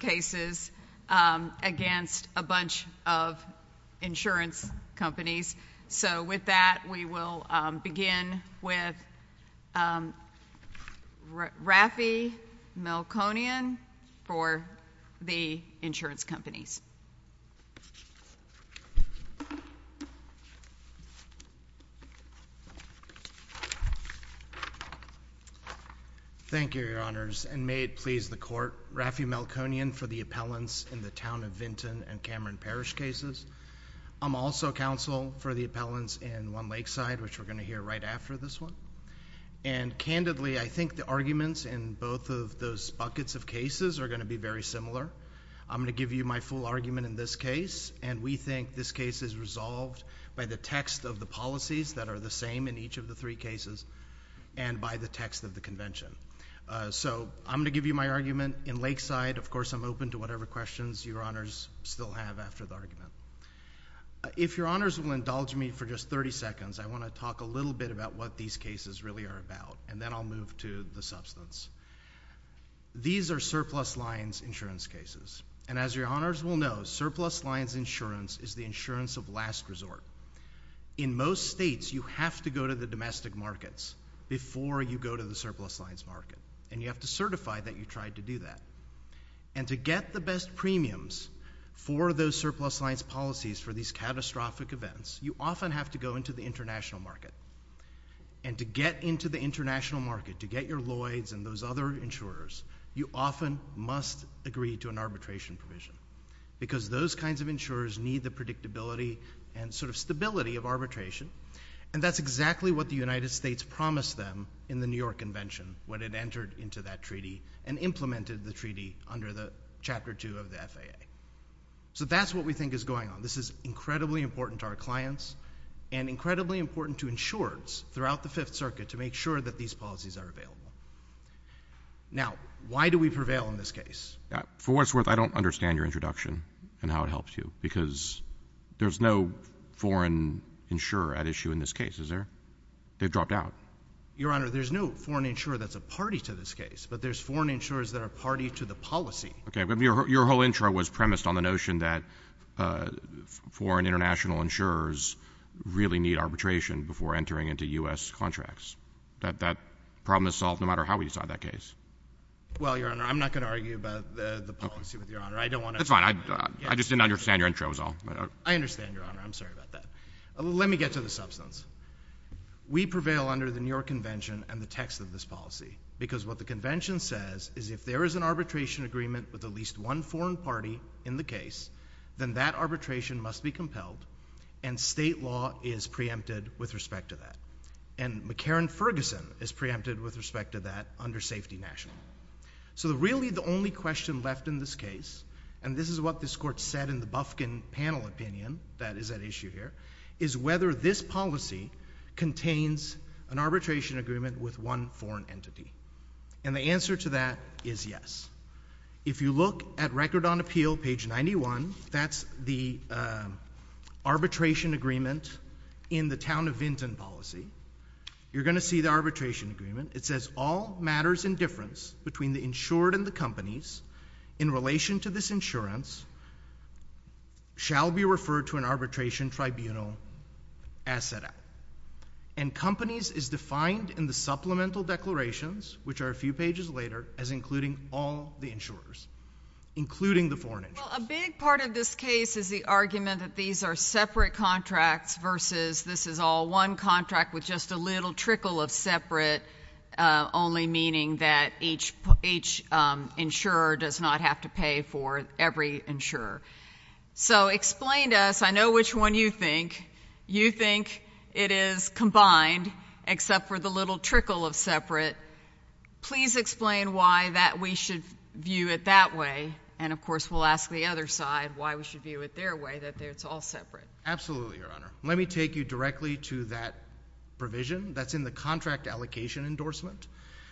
cases against a bunch of insurance companies. So with that, we will begin with Rafi Melkonian for the insurance companies. Thank you, Your Honors, and may it please the Court, Rafi Melkonian for the appellants in the Town of Vinton and Cameron Parish cases. I'm also counsel for the appellants in One Lakeside, which we're going to hear right after this one. And candidly, I think the arguments in both of those buckets of cases are going to be very similar. I'm going to give you my full argument in this case, and we think this case is resolved by the text of the policies that are the same in each of the three cases and by the text of the Convention. So I'm going to give you my argument in Lakeside. Of course, I'm open to whatever questions Your Honors still have after the argument. If Your Honors will indulge me for just 30 seconds, I want to talk a little bit about what these cases really are about, and then I'll move to the substance. These are surplus lines insurance cases. And as Your Honors will know, surplus lines insurance is the insurance of last resort. In most states, you have to go to the domestic markets before you go to the surplus lines market, and you have to certify that you tried to do that. And to get the best premiums for those surplus lines policies for these catastrophic events, you often have to go into the international market. And to get into the international market, to get your Lloyds and those other insurers, you often must agree to an arbitration provision, because those kinds of insurers need the predictability and sort of stability of arbitration, and that's exactly what the United States promised them in the New York Convention when it entered into that treaty and implemented the treaty under the Chapter 2 of the FAA. So that's what we think is going on. This is incredibly important to our clients and incredibly important to insurers throughout the Fifth Circuit to make sure that these policies are available. Now, why do we prevail in this case? For what it's worth, I don't understand your introduction and how it helps you, because there's no foreign insurer at issue in this case, is there? They've dropped out. Your Honor, there's no foreign insurer that's a party to this case, but there's foreign insurers that are a party to the policy. Okay, but your whole intro was premised on the notion that foreign international insurers really need arbitration before entering into U.S. contracts. That problem is solved no matter how we decide that case. Well, Your Honor, I'm not going to argue about the policy with Your Honor. I don't want to—That's fine. I just didn't understand your intro is all. I understand, Your Honor. I'm sorry about that. Let me get to the substance. We prevail under the New York Convention and the text of this policy, because what the Convention says is if there is an arbitration agreement with at least one foreign party in the case, then that arbitration must be compelled, and state law is preempted with respect to that. And McCarran-Ferguson is preempted with respect to that under safety national. So really the only question left in this case, and this is what this Court said in the Bufkin panel opinion that is at issue here, is whether this policy contains an arbitration agreement with one foreign entity. And the answer to that is yes. If you look at Record on Appeal, page 91, that's the arbitration agreement in the Town of Vinton policy. You're going to see the arbitration agreement. It says, all matters in difference between the insured and the companies in relation to this insurance shall be referred to an arbitration tribunal as set out. And companies is defined in the supplemental declarations, which are a few pages later, as including all the insurers, including the foreign insurers. Well, a big part of this case is the argument that these are separate contracts versus this is all one contract with just a little trickle of separate, only meaning that each insurer does not have to pay for every insurer. So explain to us, I know which one you think. You think it is combined, except for the little trickle of separate. Please explain why that we should view it that way. And, of course, we'll ask the other side why we should view it their way, that it's all separate. Absolutely, Your Honor. Let me take you directly to that provision that's in the contract allocation endorsement,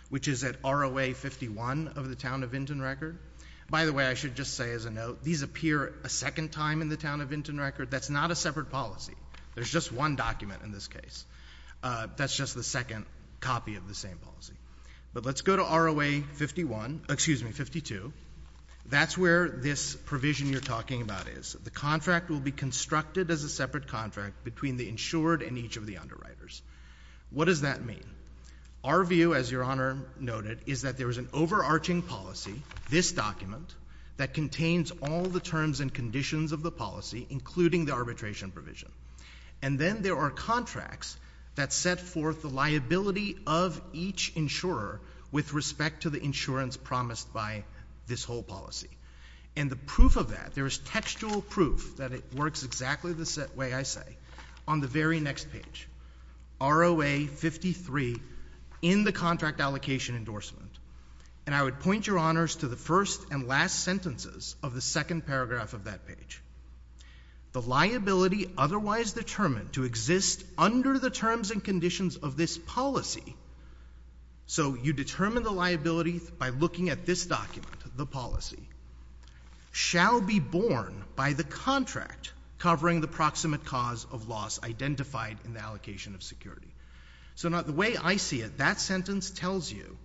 which is at ROA 51 of the Town of Vinton record. By the way, I should just say as a note, these appear a second time in the Town of Vinton record. That's not a There's just one document in this case. That's just the second copy of the same policy. But let's go to ROA 51, excuse me, 52. That's where this provision you're talking about is. The contract will be constructed as a separate contract between the insured and each of the underwriters. What does that mean? Our view, as Your Honor noted, is that there is an overarching policy, this document, that contains all the terms and conditions of the policy, including the arbitration provision. And then there are contracts that set forth the liability of each insurer with respect to the insurance promised by this whole policy. And the proof of that, there is textual proof that it works exactly the way I say on the very next page, ROA 53 in the contract allocation endorsement. And I would point Your Honors to the first and last sentences of the second paragraph of that page. The liability otherwise determined to exist under the terms and conditions of this policy, so you determine the liability by looking at this document, the policy, shall be borne by the contract covering the proximate cause of loss identified in the allocation of security. So the way I see it, that sentence tells you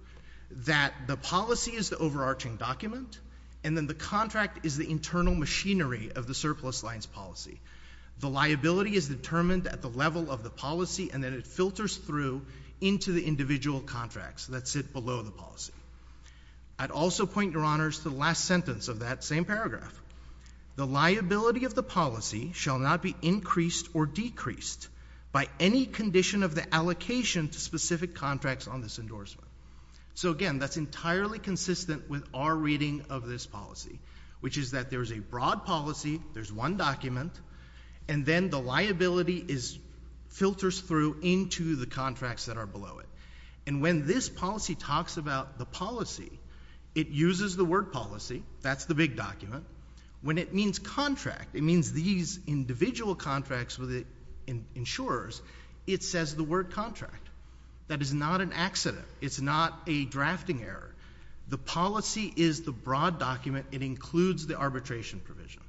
that the policy is the overarching document, and then the contract is the internal machinery of the surplus lines policy. The liability is determined at the level of the policy, and then it filters through into the individual contracts that sit below the policy. I'd also point Your Honors to the last sentence of that same paragraph. The liability of the policy shall not be increased or decreased by any condition of the allocation to specific contracts on this endorsement. So again, that's entirely consistent with our reading of this policy, which is that there's a broad policy, there's one document, and then the liability filters through into the contracts that are below it. And when this policy talks about the policy, it uses the word policy, that's the big document. When it means contract, it means these individual contracts with the insurers, it says the word contract. That is not an accident. It's not a drafting error. The policy is the broad document. It includes the arbitration provision.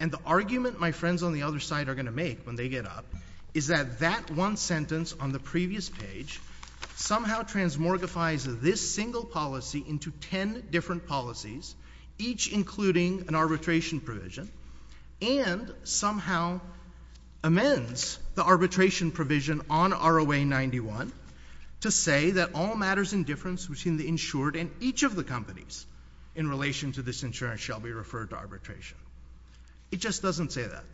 And the argument my friends on the other side are going to make when they get up is that that one sentence on the previous page somehow transmortifies this single policy into ten different policies, each including an arbitration provision, and somehow amends the arbitration provision on ROA 91 to say that all matters in difference between the insured and each of the companies in relation to this insurance shall be referred to arbitration. It just doesn't say that.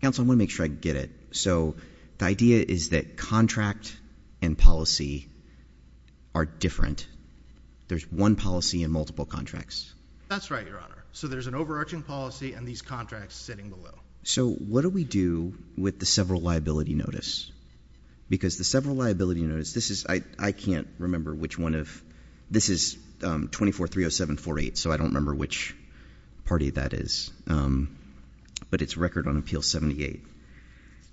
Counsel, I want to make sure I get it. So the idea is that contract and policy are different. There's one policy in multiple contracts. That's right, Your Honor. So there's an overarching policy and these contracts sitting below. So what do we do with the several liability notice? Because the several liability notice, this is, I can't remember which one of, this is 2430748, so I don't remember which party that is. But it's record on Appeal 78.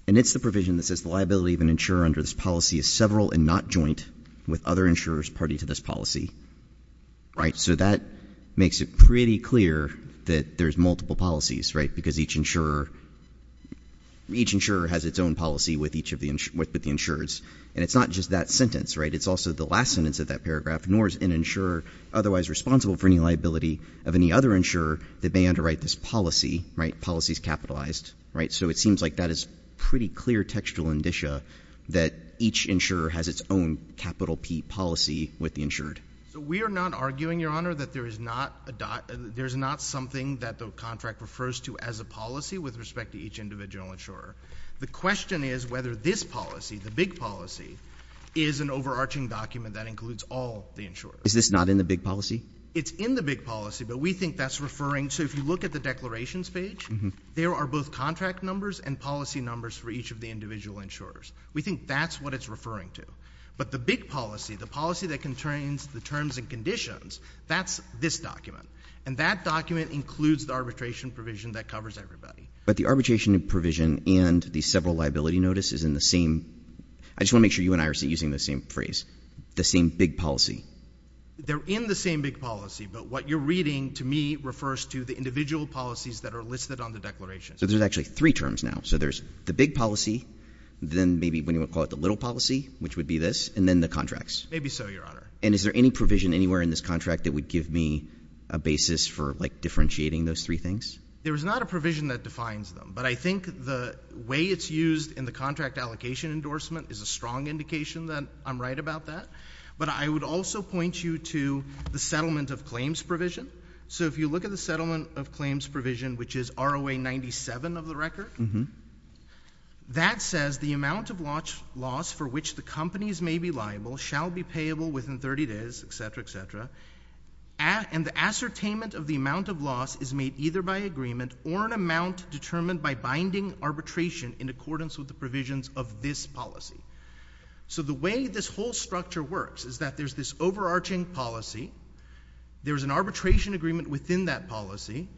And it's the provision that says the liability of an insurer under this policy is several and not joint with other insurers party to this policy. Right? So that makes it pretty clear that there's multiple policies, right? Because each insurer, each insurer has its own policy with each of the, with the insureds. And it's not just that sentence, right? It's also the last sentence of that paragraph, nor is an insurer otherwise responsible for any liability of any other insurer that may underwrite this policy, right? Policy is capitalized, right? So it seems like that is pretty clear textual indicia that each insurer has its own capital P policy with the insured. So we are not arguing, Your Honor, that there is not a, there's not something that the contract refers to as a policy with respect to each individual insurer. The question is whether this policy, the big policy, is an overarching document that includes all the insurers. Is this not in the big policy? It's in the big policy, but we think that's referring, so if you look at the declarations page, there are both contract numbers and policy numbers for each of the individual insurers. We think that's what it's referring to. But the big policy, the policy that contains the terms and conditions, that's this document. And that document includes the arbitration provision that covers everybody. But the arbitration provision and the several liability notices in the same, I just want to make sure you and I are using the same phrase, the same big policy. They're in the same big policy, but what you're reading to me refers to the individual policies that are listed on the declaration. So there's actually three terms now. So there's the big policy, then maybe when you would call it the little policy, which would be this, and then the contracts. Maybe so, Your Honor. And is there any provision anywhere in this contract that would give me a basis for like differentiating those three things? There is not a provision that defines them, but I think the way it's used in the contract allocation endorsement is a strong indication that I'm right about that. But I would also point you to the settlement of claims provision. So if you look at the settlement of claims provision, which is ROA 97 of the record, that says the amount of loss for which the companies may be liable shall be payable within 30 days, et cetera, et cetera. And the ascertainment of the amount of loss is made either by agreement or an amount determined by binding arbitration in accordance with the provisions of this policy. So the way this whole structure works is that there's this overarching policy. There's an arbitration agreement within that policy.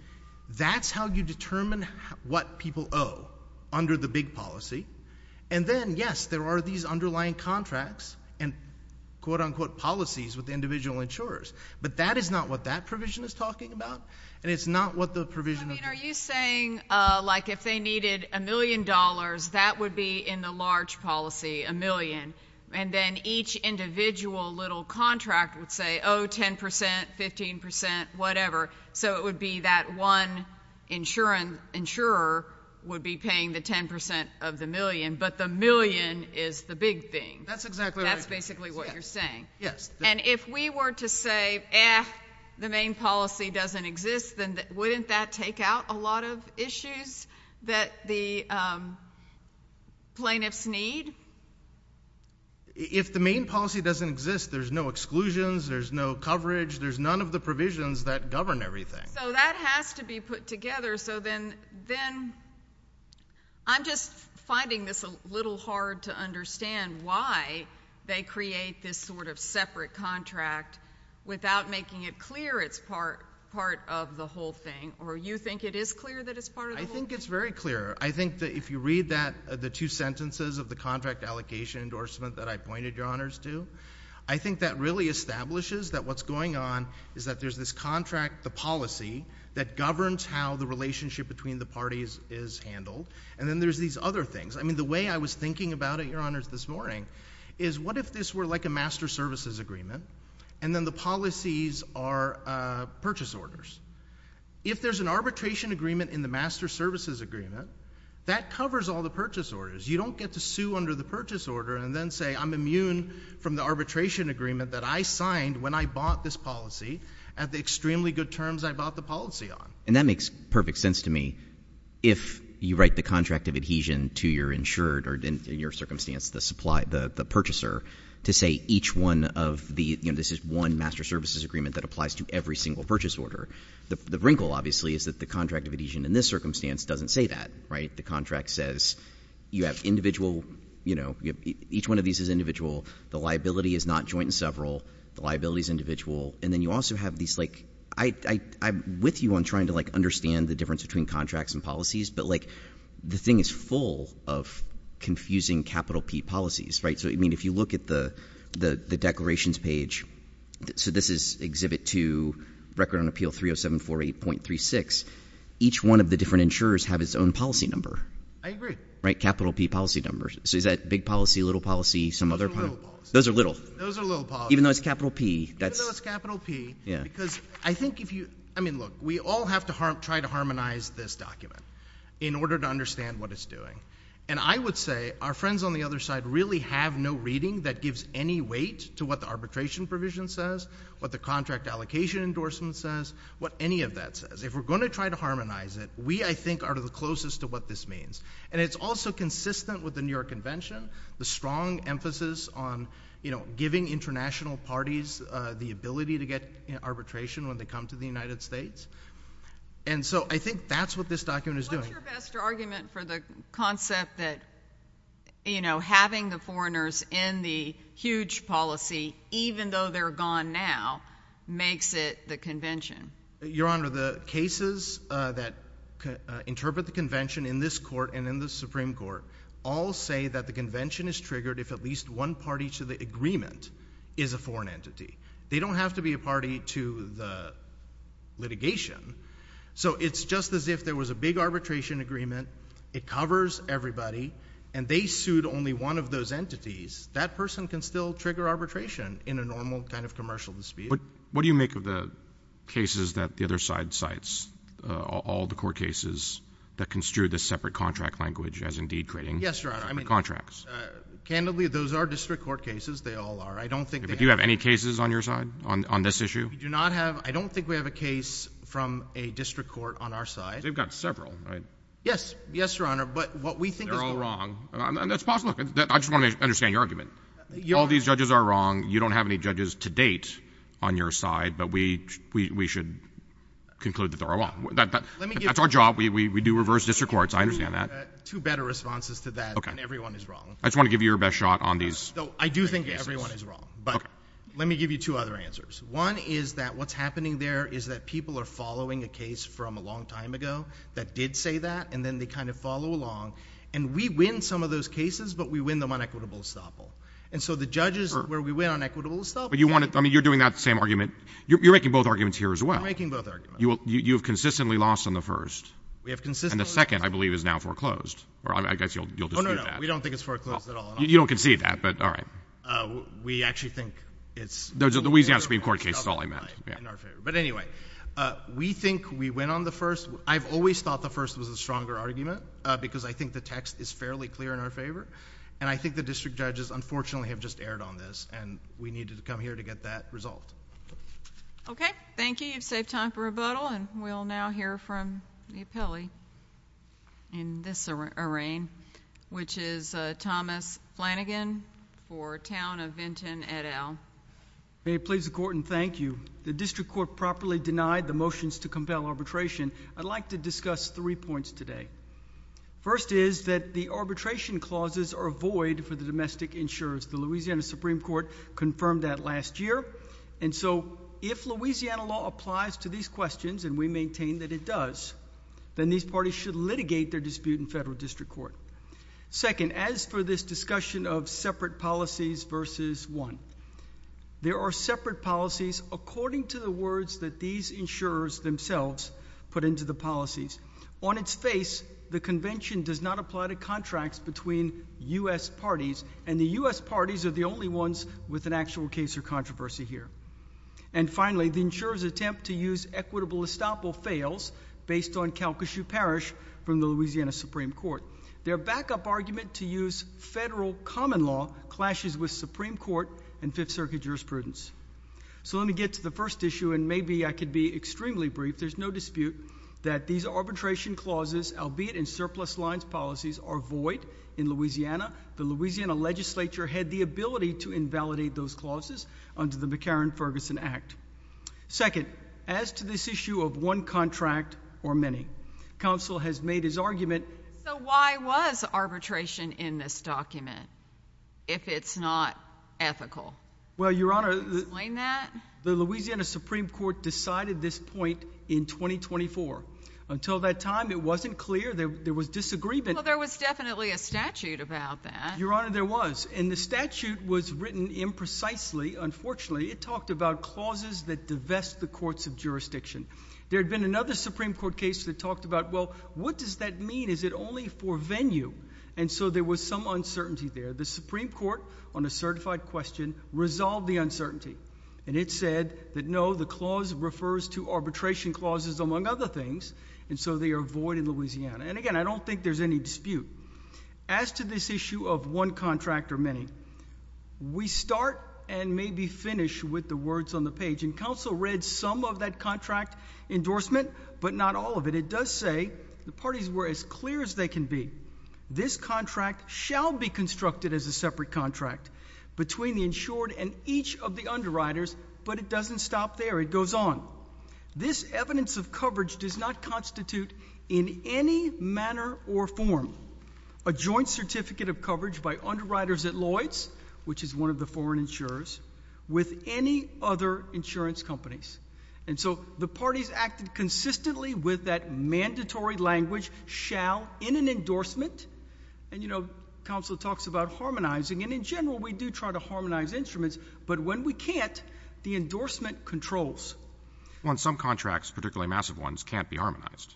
That's how you determine what people owe under the big policy. And then, yes, there are these underlying contracts and quote-unquote policies with the individual insurers. But that is not what that provision is talking about, and it's not what the provision of the— I mean, are you saying like if they needed a million dollars, that would be in the large policy, a million, and then each individual little contract would say, oh, 10 percent, 15 percent, whatever. So it would be that one insurer would be paying the 10 percent of the million, but the million is the big thing. That's exactly right. That's basically what you're saying. Yes. And if we were to say, eh, the main policy doesn't exist, then wouldn't that take out a lot of issues that the plaintiffs need? If the main policy doesn't exist, there's no exclusions, there's no coverage, there's none of the provisions that govern everything. So that has to be put together. So then I'm just finding this a little hard to understand why they create this sort of separate contract without making it clear it's part of the whole thing, or you think it is clear that it's part of the whole thing? I think it's very clear. I think that if you read that, the two sentences of the contract allocation endorsement that I pointed, Your Honors, to, I think that really establishes that what's going on is that there's this contract, the policy, that governs how the relationship between the parties is handled, and then there's these other things. I mean, the way I was thinking about it, Your Honors, this morning, is what if this were like a master services agreement, and then the policies are purchase orders? If there's an arbitration agreement in the master services agreement, that covers all the purchase orders. You don't get to sue under the purchase order and then say, I'm immune from the arbitration agreement that I signed when I bought this policy at the extremely good terms I bought the policy on. And that makes perfect sense to me. If you write the contract of adhesion to your insured or, in your circumstance, the purchaser, to say each one of the, you know, this is one master services agreement that applies to every single purchase order, the wrinkle obviously is that the contract of adhesion in this circumstance doesn't say that, right? The contract says you have individual, you know, each one of these is individual. The liability is not joint and several. The liability is individual. And then you also have these, like, I'm with you on trying to, like, understand the difference between contracts and policies, but, like, the thing is full of confusing capital P policies, right? So, I mean, if you look at the declarations page, so this is exhibit two, record on appeal 30748.36, each one of the different insurers have its own policy number. I agree. Right? Capital P policy numbers. So is that big policy, little policy, some other policy? Those are little. Those are little. Those are little policies. Even though it's capital P, that's... Even though it's capital P, because I think if you... I mean, look, we all have to try to harmonize this document in order to understand what it's doing. And I would say our friends on the other side really have no reading that gives any weight to what the arbitration provision says, what the contract allocation endorsement says, what any of that says. If we're going to try to harmonize it, we, I think, are the closest to what this means. And it's also consistent with the New York Convention, the strong emphasis on, you know, giving international parties the ability to get arbitration when they come to the United States. And so I think that's what this document is doing. What's your best argument for the concept that, you know, having the foreigners in the huge policy, even though they're gone now, makes it the convention? Your Honor, the cases that interpret the convention in this court and in the Supreme Court all say that the convention is triggered if at least one party to the agreement is a foreign entity. They don't have to be a party to the litigation. So it's just as if there was a big arbitration agreement, it covers everybody, and they sued only one of those entities, that person can still trigger arbitration in a normal kind of commercial dispute. What do you make of the cases that the other side cites, all the court cases that construe the separate contract language as indeed creating... Yes, Your Honor. ...the contracts? Candidly, those are district court cases. They all are. I don't think they have... Do you have any cases on your side on this issue? We do not have. I don't think we have a case from a district court on our side. They've got several, right? Yes. Yes, Your Honor. But what we think is... They're all wrong. And that's possible. I just want to understand your argument. All these judges are wrong. You don't have any judges to date on your side. But we should conclude that they're all wrong. That's our job. We do reverse district courts. I understand that. I have two better responses to that. And everyone is wrong. I just want to give you your best shot on these cases. I do think everyone is wrong. Okay. But let me give you two other answers. One is that what's happening there is that people are following a case from a long time ago that did say that, and then they kind of follow along. And we win some of those cases, but we win them on equitable estoppel. And so the judges... ...where we win on equitable estoppel... But you want to... I mean, you're doing that same argument. You're making both arguments here as well. We're making both arguments. You have consistently lost on the first. We have consistently... And the second, I believe, is now foreclosed. Or I guess you'll dispute that. Oh, no, no. We don't think it's foreclosed at all. You don't concede that, but all right. We actually think it's... The Louisiana Supreme Court case is all I meant. But anyway, we think we win on the first. I've always thought the first was a stronger argument because I think the text is fairly clear in our favor. And I think the district judges, unfortunately, have just erred on this. And we needed to come here to get that result. Okay. Thank you. You've saved time for rebuttal. And we'll now hear from the appellee. In this arraign, which is Thomas Flanagan for Town of Vinton et al. May it please the court and thank you. The district court properly denied the motions to compel arbitration. I'd like to discuss three points today. First is that the arbitration clauses are void for the domestic insurers. The Louisiana Supreme Court confirmed that last year. And so if Louisiana law applies to these questions, and we maintain that it does, then these parties should litigate their dispute in federal district court. Second, as for this discussion of separate policies versus one, there are separate policies according to the words that these insurers themselves put into the policies. On its face, the convention does not apply to contracts between U.S. parties. And the U.S. parties are the only ones with an actual case or controversy here. And finally, the insurer's attempt to use equitable estoppel fails based on Calcasieu Parish from the Louisiana Supreme Court. Their backup argument to use federal common law clashes with Supreme Court and Fifth Circuit jurisprudence. So let me get to the first issue, and maybe I could be extremely brief. There's no dispute that these arbitration clauses, albeit in surplus lines policies, are void in Louisiana. The Louisiana legislature had the ability to invalidate those clauses under the McCarran-Ferguson Act. Second, as to this issue of one contract or many, counsel has made his argument. So why was arbitration in this document if it's not ethical? Well, Your Honor, the Louisiana Supreme Court decided this point in 2024. Until that time, it wasn't clear. There was disagreement. Well, there was definitely a statute about that. Your Honor, there was. And the statute was written imprecisely, unfortunately. It talked about clauses that divest the courts of jurisdiction. There had been another Supreme Court case that talked about, well, what does that mean? Is it only for venue? And so there was some uncertainty there. The Supreme Court, on a certified question, resolved the uncertainty. And it said that, no, the clause refers to arbitration clauses, among other things, and so they are void in Louisiana. And again, I don't think there's any dispute. As to this issue of one contract or many, we start and maybe finish with the words on the page. And counsel read some of that contract endorsement, but not all of it. It does say the parties were as clear as they can be. This contract shall be constructed as a separate contract between the insured and each of the underwriters, but it doesn't stop there. It does not constitute in any manner or form a joint certificate of coverage by underwriters at Lloyd's, which is one of the foreign insurers, with any other insurance companies. And so the parties acted consistently with that mandatory language, shall, in an endorsement. And, you know, counsel talks about harmonizing. And in general, we do try to harmonize instruments, but when we can't, the endorsement controls. Well, in some contracts, particularly massive ones, can't be harmonized.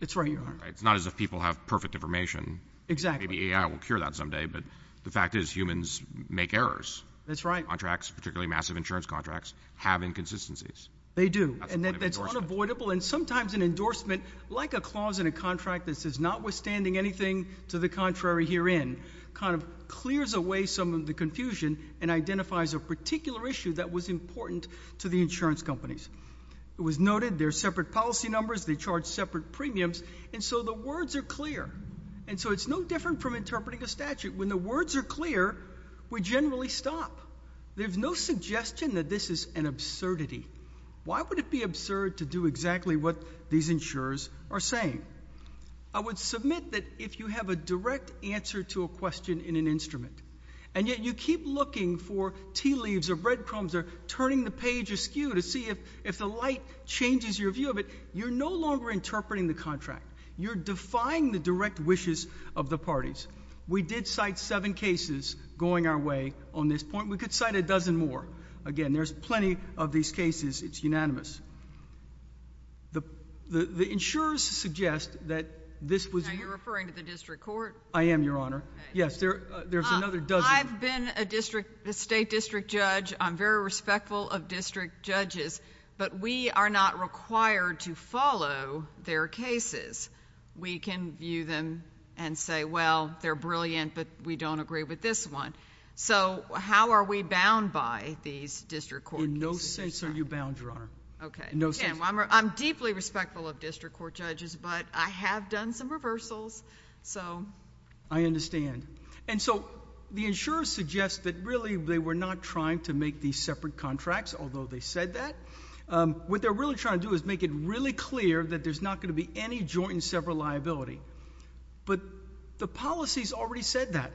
It's right, Your Honor. It's not as if people have perfect information. Exactly. Maybe AI will cure that someday, but the fact is, humans make errors. That's right. Contracts, particularly massive insurance contracts, have inconsistencies. They do. That's a point of endorsement. And that's unavoidable. And sometimes an endorsement, like a clause in a contract that says not withstanding anything to the contrary herein, kind of clears away some of the confusion and identifies a particular issue that was important to the insurance companies. It was noted, there are separate policy numbers, they charge separate premiums, and so the words are clear. And so it's no different from interpreting a statute. When the words are clear, we generally stop. There's no suggestion that this is an absurdity. Why would it be absurd to do exactly what these insurers are saying? I would submit that if you have a direct answer to a question in an instrument, and yet you keep looking for tea leaves or breadcrumbs or turning the page askew to see if the light changes your view of it, you're no longer interpreting the contract. You're defying the direct wishes of the parties. We did cite seven cases going our way on this point. We could cite a dozen more. Again, there's plenty of these cases. It's unanimous. The insurers suggest that this was— Now, you're referring to the district court? I am, Your Honor. Yes, there's another dozen. I've been a district, a state district judge. I'm very respectful of district judges, but we are not required to follow their cases. We can view them and say, well, they're brilliant, but we don't agree with this one. So how are we bound by these district court cases? In no sense are you bound, Your Honor. Okay. In no sense. Again, I'm deeply respectful of district court judges, but I have done some reversals, so... I understand. And so the insurers suggest that really they were not trying to make these separate contracts, although they said that. What they're really trying to do is make it really clear that there's not going to be any joint and several liability. But the policies already said that.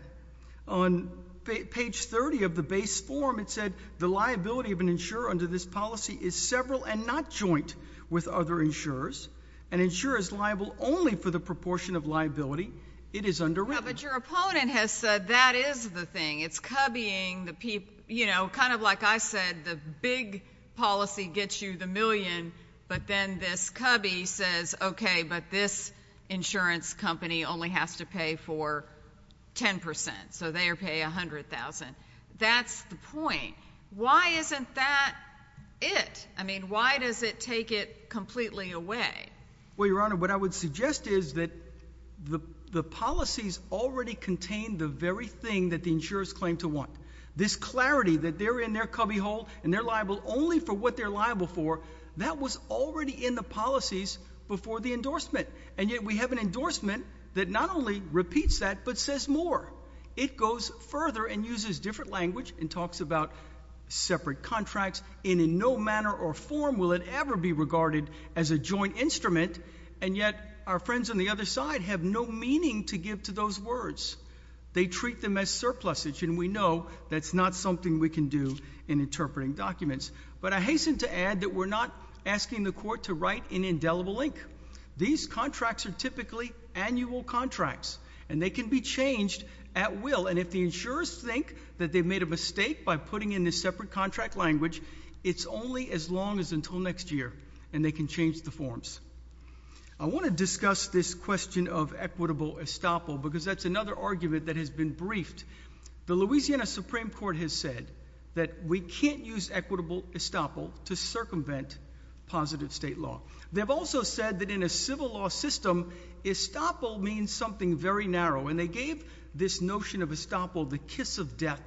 On page 30 of the base form, it said the liability of an insurer under this policy is several and not joint with other insurers. An insurer is liable only for the proportion of liability it is underwritten. But your opponent has said that is the thing. It's cubbying the people. You know, kind of like I said, the big policy gets you the million, but then this cubby says, okay, but this insurance company only has to pay for 10 percent, so they pay $100,000. That's the point. Why isn't that it? I mean, why does it take it completely away? Well, your Honor, what I would suggest is that the policies already contain the very thing that the insurers claim to want. This clarity that they're in their cubbyhole and they're liable only for what they're liable for, that was already in the policies before the endorsement. And yet we have an endorsement that not only repeats that but says more. It goes further and uses different language and talks about separate contracts and in no manner or form will it ever be regarded as a joint instrument, and yet our friends on the other side have no meaning to give to those words. They treat them as surplusage and we know that's not something we can do in interpreting documents. But I hasten to add that we're not asking the Court to write an indelible link. These contracts are typically annual contracts and they can be changed at will, and if the insurers think that they've made a mistake by putting in this separate contract language, it's only as long as until next year and they can change the forms. I want to discuss this question of equitable estoppel because that's another argument that has been briefed. The Louisiana Supreme Court has said that we can't use equitable estoppel to circumvent positive state law. They've also said that in a civil law system, estoppel means something very narrow, and they gave this notion of estoppel the kiss of death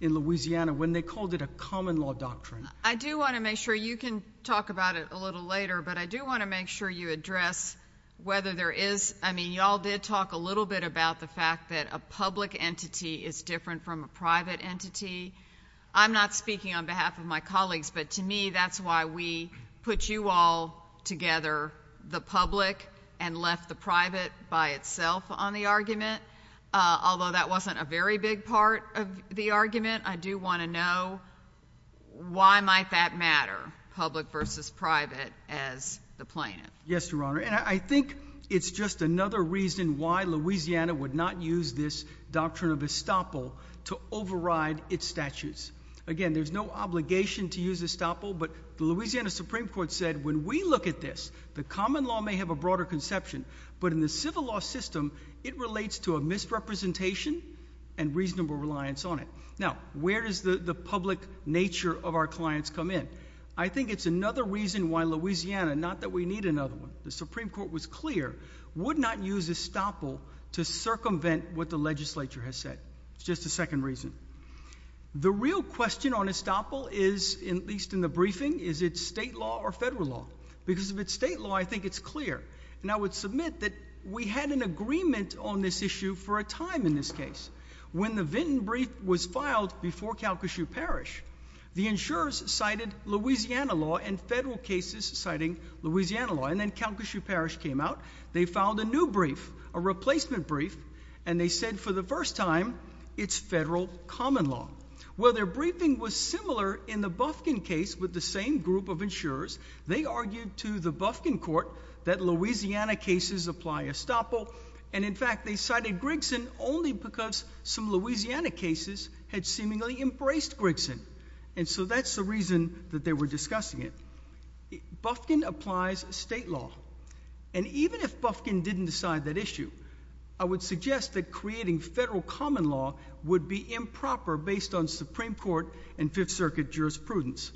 in Louisiana when they called it a common law doctrine. I do want to make sure, you can talk about it a little later, but I do want to make sure you address whether there is, I mean, y'all did talk a little bit about the fact that a public entity is different from a private entity. I'm not speaking on behalf of my colleagues, but to me, that's why we put you all together, the public, and left the private by itself on the argument, although that wasn't a very big part of the argument. I do want to know why might that matter, public versus private, as the plaintiff? Yes, Your Honor, and I think it's just another reason why Louisiana would not use this doctrine of estoppel to override its statutes. Again, there's no obligation to use estoppel, but the Louisiana Supreme Court said, when we look at this, the common law may have a broader conception, but in the civil law system, it relates to a misrepresentation and reasonable reliance on it. Now, where does the public nature of our clients come in? I think it's another reason why Louisiana, not that we need another one, the Supreme Court was clear, would not use estoppel to circumvent what the legislature has said. It's just a second reason. The real question on estoppel is, at least in the briefing, is it state law or federal law? Because if it's state law, I think it's clear, and I would submit that we had an agreement on this issue for a time in this case. When the Vinton brief was filed before Calcasieu Parish, the insurers cited Louisiana law and federal cases citing Louisiana law, and then Calcasieu Parish came out, they filed a new brief, a replacement brief, and they said for the first time, it's federal common law. Well, their briefing was similar in the Bufkin case with the same group of insurers. They argued to the Bufkin court that Louisiana cases apply estoppel, and in fact, they cited Grigson only because some Louisiana cases had seemingly embraced Grigson, and so that's the reason that they were discussing it. Bufkin applies state law, and even if Bufkin didn't decide that issue, I would suggest that creating federal common law would be improper based on Supreme Court and Fifth Circuit jurisprudence.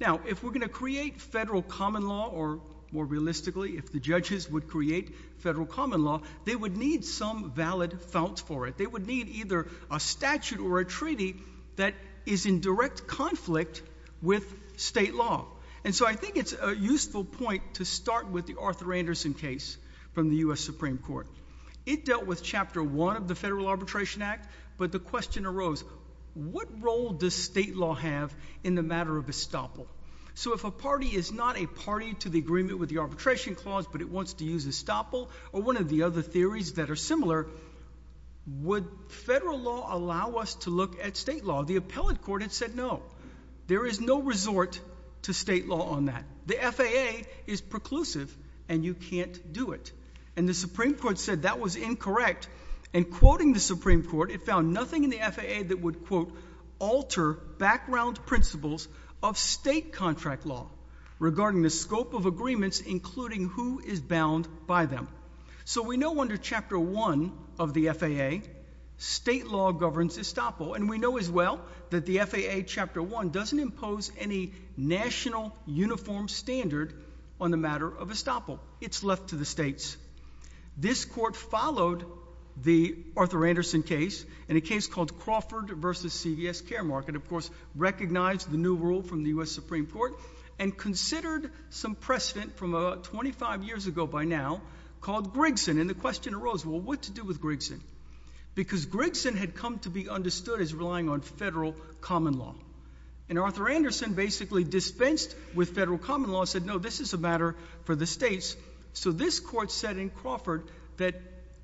Now, if we're going to create federal common law, or more realistically, if the judges would create federal common law, they would need some valid founts for it. They would need either a statute or a treaty that is in direct conflict with state law, and so I think it's a useful point to start with the Arthur Anderson case from the U.S. Supreme Court. It dealt with Chapter 1 of the Federal Arbitration Act, but the question arose, what role does state law have in the matter of estoppel? So if a party is not a party to the agreement with the arbitration clause, but it wants to use estoppel, or one of the other theories that are similar, would federal law allow us to look at state law? The appellate court had said no. There is no resort to state law on that. The FAA is preclusive, and you can't do it, and the Supreme Court said that was incorrect, and quoting the Supreme Court, it found nothing in the FAA that would, quote, alter background principles of state contract law regarding the scope of agreements, including who is bound by them. So we know under Chapter 1 of the FAA, state law governs estoppel, and we know as well that the FAA Chapter 1 doesn't impose any national uniform standard on the matter of estoppel. It's left to the states. This court followed the Arthur Anderson case, and a case called Crawford v. CVS Care Market, of course, recognized the new rule from the U.S. Supreme Court and considered some precedent from about 25 years ago by now called Grigson, and the question arose, well, what to do with Grigson? Because Grigson had come to be understood as relying on federal common law, and Arthur Anderson basically dispensed with federal common law and said, no, this is a matter for the states, so this court said in Crawford that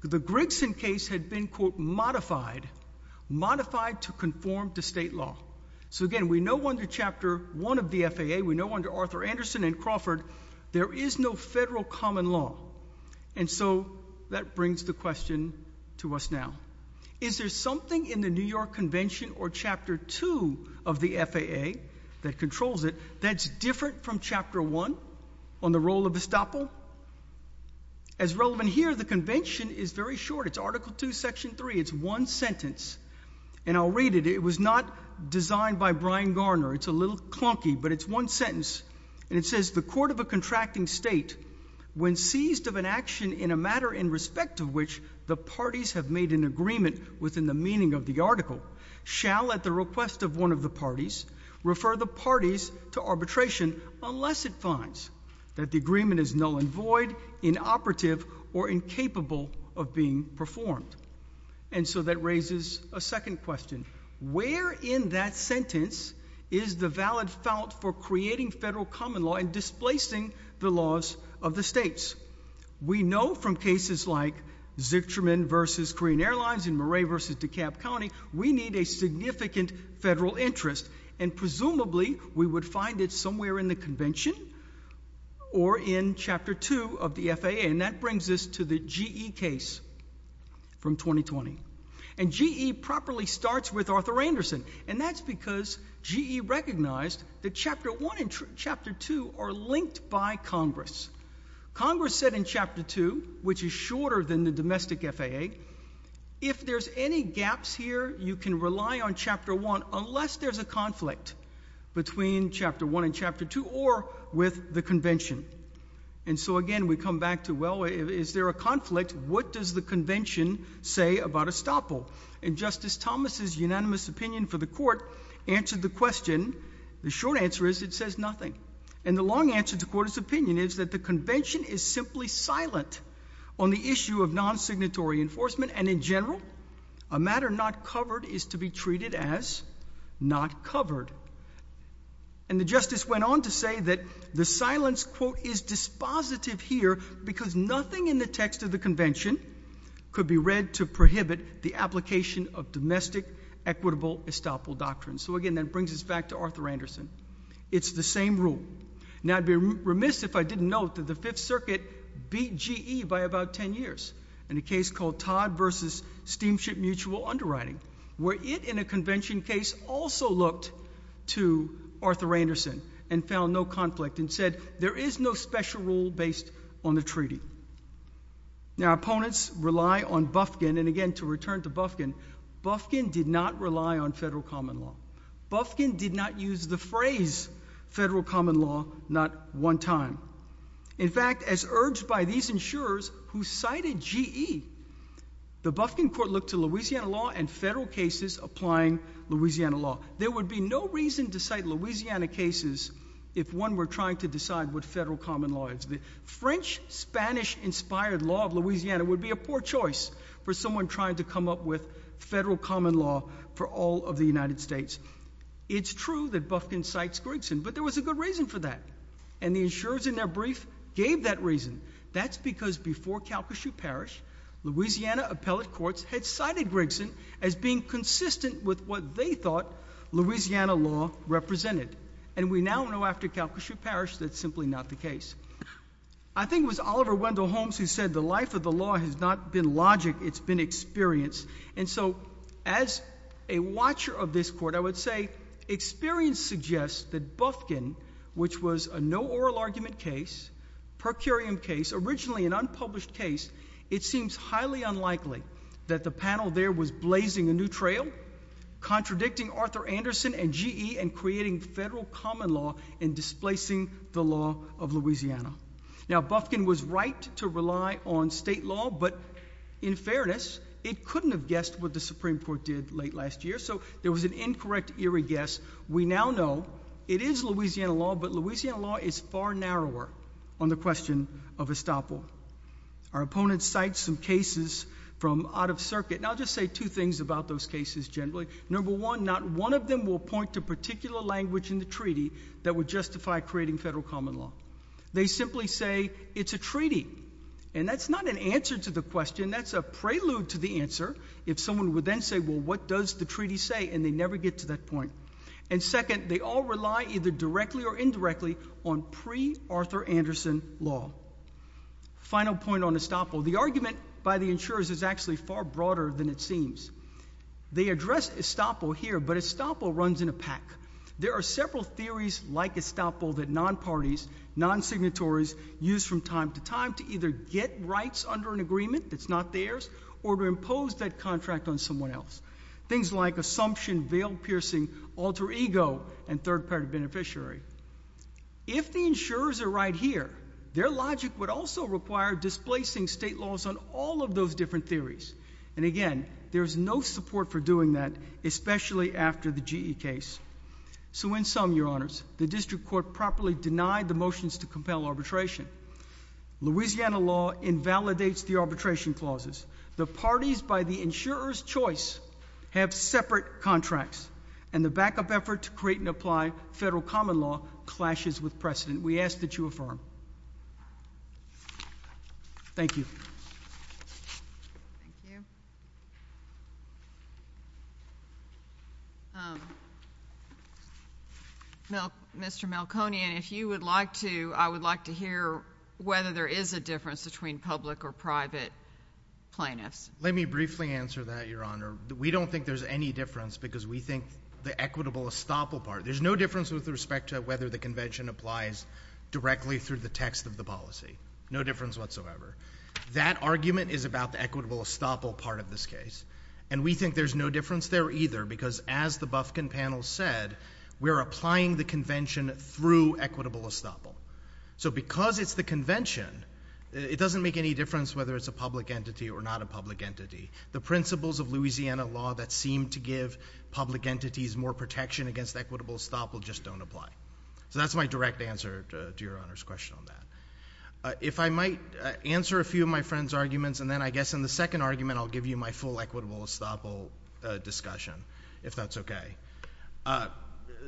the Grigson case had been, quote, modified, modified to conform to state law. So again, we know under Chapter 1 of the FAA, we know under Arthur Anderson and Crawford there is no federal common law, and so that brings the question to us now. Is there something in the New York Convention or Chapter 2 of the FAA that controls it that's different from Chapter 1 on the role of estoppel? As relevant here, the Convention is very short. It's Article 2, Section 3. It's one sentence, and I'll read it. It was not designed by Brian Garner. It's a little clunky, but it's one sentence, and it says, the court of a contracting state, when seized of an action in a matter in respect of which the parties have made an agreement within the meaning of the article, shall at the request of one of the parties refer the parties to arbitration unless it finds that the agreement is null and void, inoperative, or incapable of being performed. And so that raises a second question. Where in that sentence is the valid felt for creating federal common law and displacing the laws of the states? We know from cases like Zichterman v. Korean Airlines and Murray v. DeKalb County, we need a significant federal interest, and presumably, we would find it somewhere in the Convention or in Chapter 2 of the FAA, and that brings us to the GE case from 2020. And GE properly starts with Arthur Anderson, and that's because GE recognized that Chapter 1 and Chapter 2 are linked by Congress. Congress said in Chapter 2, which is shorter than the domestic FAA, if there's any gaps here, you can rely on Chapter 1 unless there's a conflict between Chapter 1 and Chapter 2 or with the Convention. And so again, we come back to, is there a conflict? What does the Convention say about estoppel? And Justice Thomas's unanimous opinion for the Court answered the question. The short answer is it says nothing. And the long answer to the Court's opinion is that the Convention is simply silent on the issue of non-signatory enforcement, and in general, a matter not covered is to be treated as not covered. And the Justice went on to say that the silence, quote, is dispositive here because nothing in the text of the Convention could be read to prohibit the application of domestic equitable estoppel doctrines. So again, that brings us back to Arthur Anderson. It's the same rule. Now, I'd be remiss if I didn't note that the Fifth Circuit beat GE by about 10 years in a case called Todd versus Steamship Mutual Underwriting, where it, in a Convention case, also looked to Arthur Anderson and found no conflict and said there is no special rule based on the treaty. Now, opponents rely on Bufkin, and again, to return to Bufkin, Bufkin did not rely on federal common law. Bufkin did not use the phrase federal common law not one time. In fact, as urged by these insurers who cited GE, the Bufkin Court looked to Louisiana law and federal cases applying Louisiana law. There would be no reason to cite Louisiana cases if one were trying to decide what federal common law is. The French-Spanish inspired law of Louisiana would be a poor choice for someone trying to come up with federal common law for all of the United States. It's true that Bufkin cites Grigson, but there was a good reason for that, and the insurers in their brief gave that reason. That's because before Calcasieu Parish, Louisiana appellate courts had cited Grigson as being consistent with what they thought Louisiana law represented, and we now know after Calcasieu Parish that's simply not the case. I think it was Oliver Wendell Holmes who said the life of the law has not been logic, it's been experience, and so as a watcher of this court, I would say experience suggests that Bufkin, which was a no oral argument case, per curiam case, originally an unpublished case, it seems highly unlikely that the panel there was blazing a new trail, contradicting Arthur Anderson and GE and creating federal common law and displacing the law of Louisiana. Now Bufkin was right to rely on state law, but in fairness, it couldn't have guessed what the Supreme Court did late last year, so there was an incorrect eerie guess. We now know it is Louisiana law, but Louisiana law is far narrower on the question of estoppel. Our opponents cite some cases from out of circuit, and I'll just say two things about those cases generally. Number one, not one of them will point to particular language in the treaty that would justify creating federal common law. They simply say it's a treaty, and that's not an answer to the question, that's a prelude to the answer if someone would then say, well what does the treaty say, and they never get to that point. And second, they all rely either directly or indirectly on pre-Arthur Anderson law. Final point on estoppel, the argument by the insurers is actually far broader than it seems. They address estoppel here, but estoppel runs in a pack. There are several theories like estoppel that non-parties, non-signatories use from time to time to either get rights under an agreement that's not theirs, or to impose that contract on someone else. Things like assumption, veil piercing, alter ego, and third party beneficiary. If the insurers are right here, their logic would also require displacing state laws on all of those different theories. And again, there's no support for doing that, especially after the GE case. So in sum, your honors, the district court properly denied the motions to compel arbitration. Louisiana law invalidates the arbitration clauses. The parties by the insurer's choice have separate contracts, and the backup effort to create and apply federal common law clashes with precedent. We ask that you affirm. Thank you. Thank you. Mr. Malconian, if you would like to, I would like to hear whether there is a difference between public or private plaintiffs. Let me briefly answer that, your honor. We don't think there's any difference, because we think the equitable estoppel part, there's no difference with respect to whether the convention applies directly through the text of the policy. No difference whatsoever. That argument is about the equitable estoppel part of this case, and we think there's no difference there either, because as the Bufkin panel said, we're applying the convention through equitable estoppel. So because it's the convention, it doesn't make any difference whether it's a public entity or not a public entity. The principles of Louisiana law that seem to give public entities more protection against equitable estoppel just don't apply. So that's my direct answer to your question. I'll answer a few of my friend's arguments, and then I guess in the second argument I'll give you my full equitable estoppel discussion, if that's okay.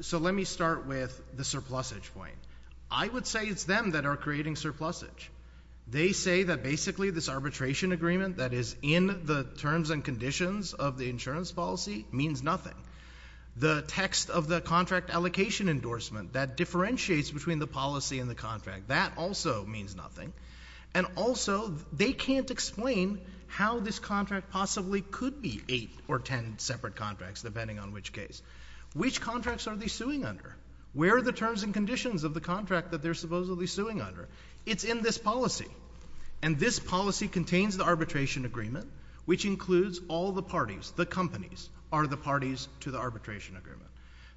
So let me start with the surplusage point. I would say it's them that are creating surplusage. They say that basically this arbitration agreement that is in the terms and conditions of the insurance policy means nothing. The text of the contract allocation endorsement that differentiates between the policy and the contract, that also means nothing. And also they can't explain how this contract possibly could be eight or ten separate contracts, depending on which case. Which contracts are they suing under? Where are the terms and conditions of the contract that they're supposedly suing under? It's in this policy. And this policy contains the arbitration agreement, which includes all the parties, the companies, are the parties to the arbitration agreement.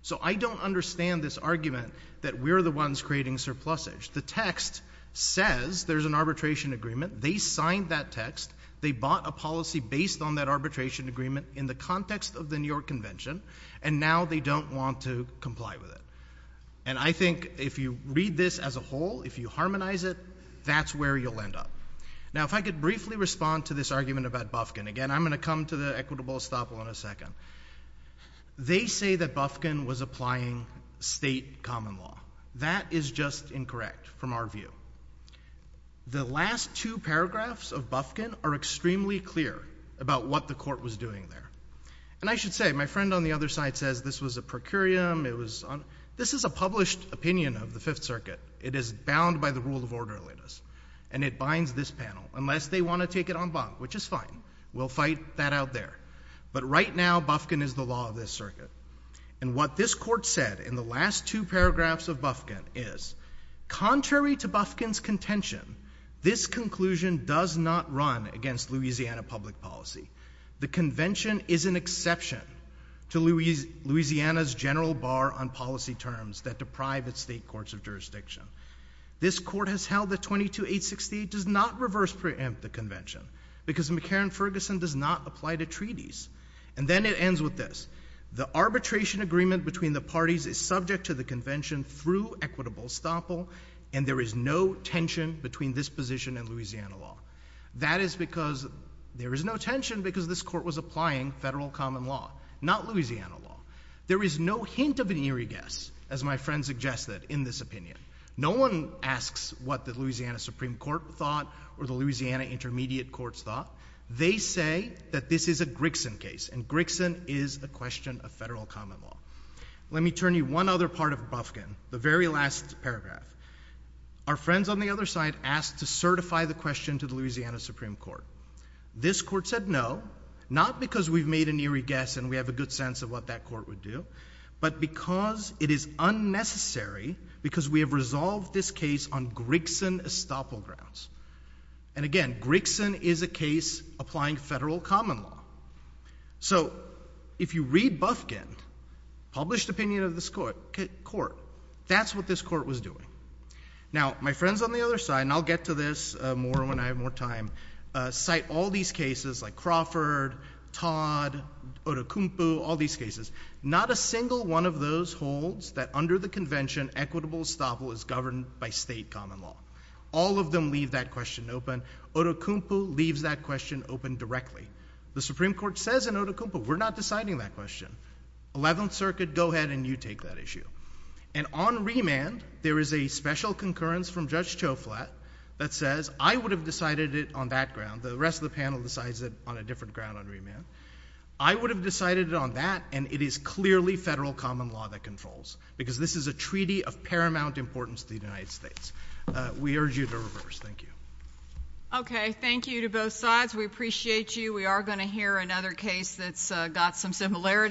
So I don't understand this argument that we're the ones creating surplusage. The text says there's an arbitration agreement. They signed that text. They bought a policy based on that arbitration agreement in the context of the New York Convention, and now they don't want to comply with it. And I think if you read this as a whole, if you harmonize it, that's where you'll end up. Now if I could briefly respond to this argument about Bufkin. Again, I'm going to the equitable estoppel in a second. They say that Bufkin was applying state common law. That is just incorrect from our view. The last two paragraphs of Bufkin are extremely clear about what the court was doing there. And I should say, my friend on the other side says this was a procurium. This is a published opinion of the Fifth Circuit. It is bound by the rule of orderliness, and it binds this panel. Unless they want to take it on bond, which is fine. We'll fight that out there. But right now, Bufkin is the law of this circuit. And what this court said in the last two paragraphs of Bufkin is, contrary to Bufkin's contention, this conclusion does not run against Louisiana public policy. The Convention is an exception to Louisiana's general bar on policy terms that deprive its state courts of jurisdiction. This court has 22868 does not reverse preempt the Convention because McCarran-Ferguson does not apply to treaties. And then it ends with this. The arbitration agreement between the parties is subject to the Convention through equitable estoppel, and there is no tension between this position and Louisiana law. That is because there is no tension because this court was applying federal common law, not Louisiana law. There is no hint of an eerie guess, as my friend suggested in this opinion. No one asks what the Louisiana Supreme Court thought or the Louisiana Intermediate Courts thought. They say that this is a Grixen case, and Grixen is a question of federal common law. Let me turn you one other part of Bufkin, the very last paragraph. Our friends on the other side asked to certify the question to the Louisiana Supreme Court. This court said no, not because we've made an eerie guess and we have a good sense of what that court would do, but because it is unnecessary because we have resolved this case on Grixen estoppel grounds. And again, Grixen is a case applying federal common law. So if you read Bufkin's published opinion of this court, that's what this court was doing. Now my friends on the other side, and I'll get to this more when I have more time, cite all these cases like Crawford, Todd, Odukumpu, all these cases. Not a single one of those holds that under the convention, equitable estoppel is governed by state common law. All of them leave that question open. Odukumpu leaves that question open directly. The Supreme Court says in Odukumpu, we're not deciding that question. Eleventh Circuit, go ahead and you take that issue. And on remand, there is a special concurrence from Judge Choflat that says, I would have decided it on that ground. The rest of the panel decides it on a different ground on remand. I would have decided it on that, and it is clearly federal common law that controls, because this is a treaty of paramount importance to the United States. We urge you to reverse. Thank you. Okay. Thank you to both sides. We appreciate you. We are going to hear another case that's got some similarities.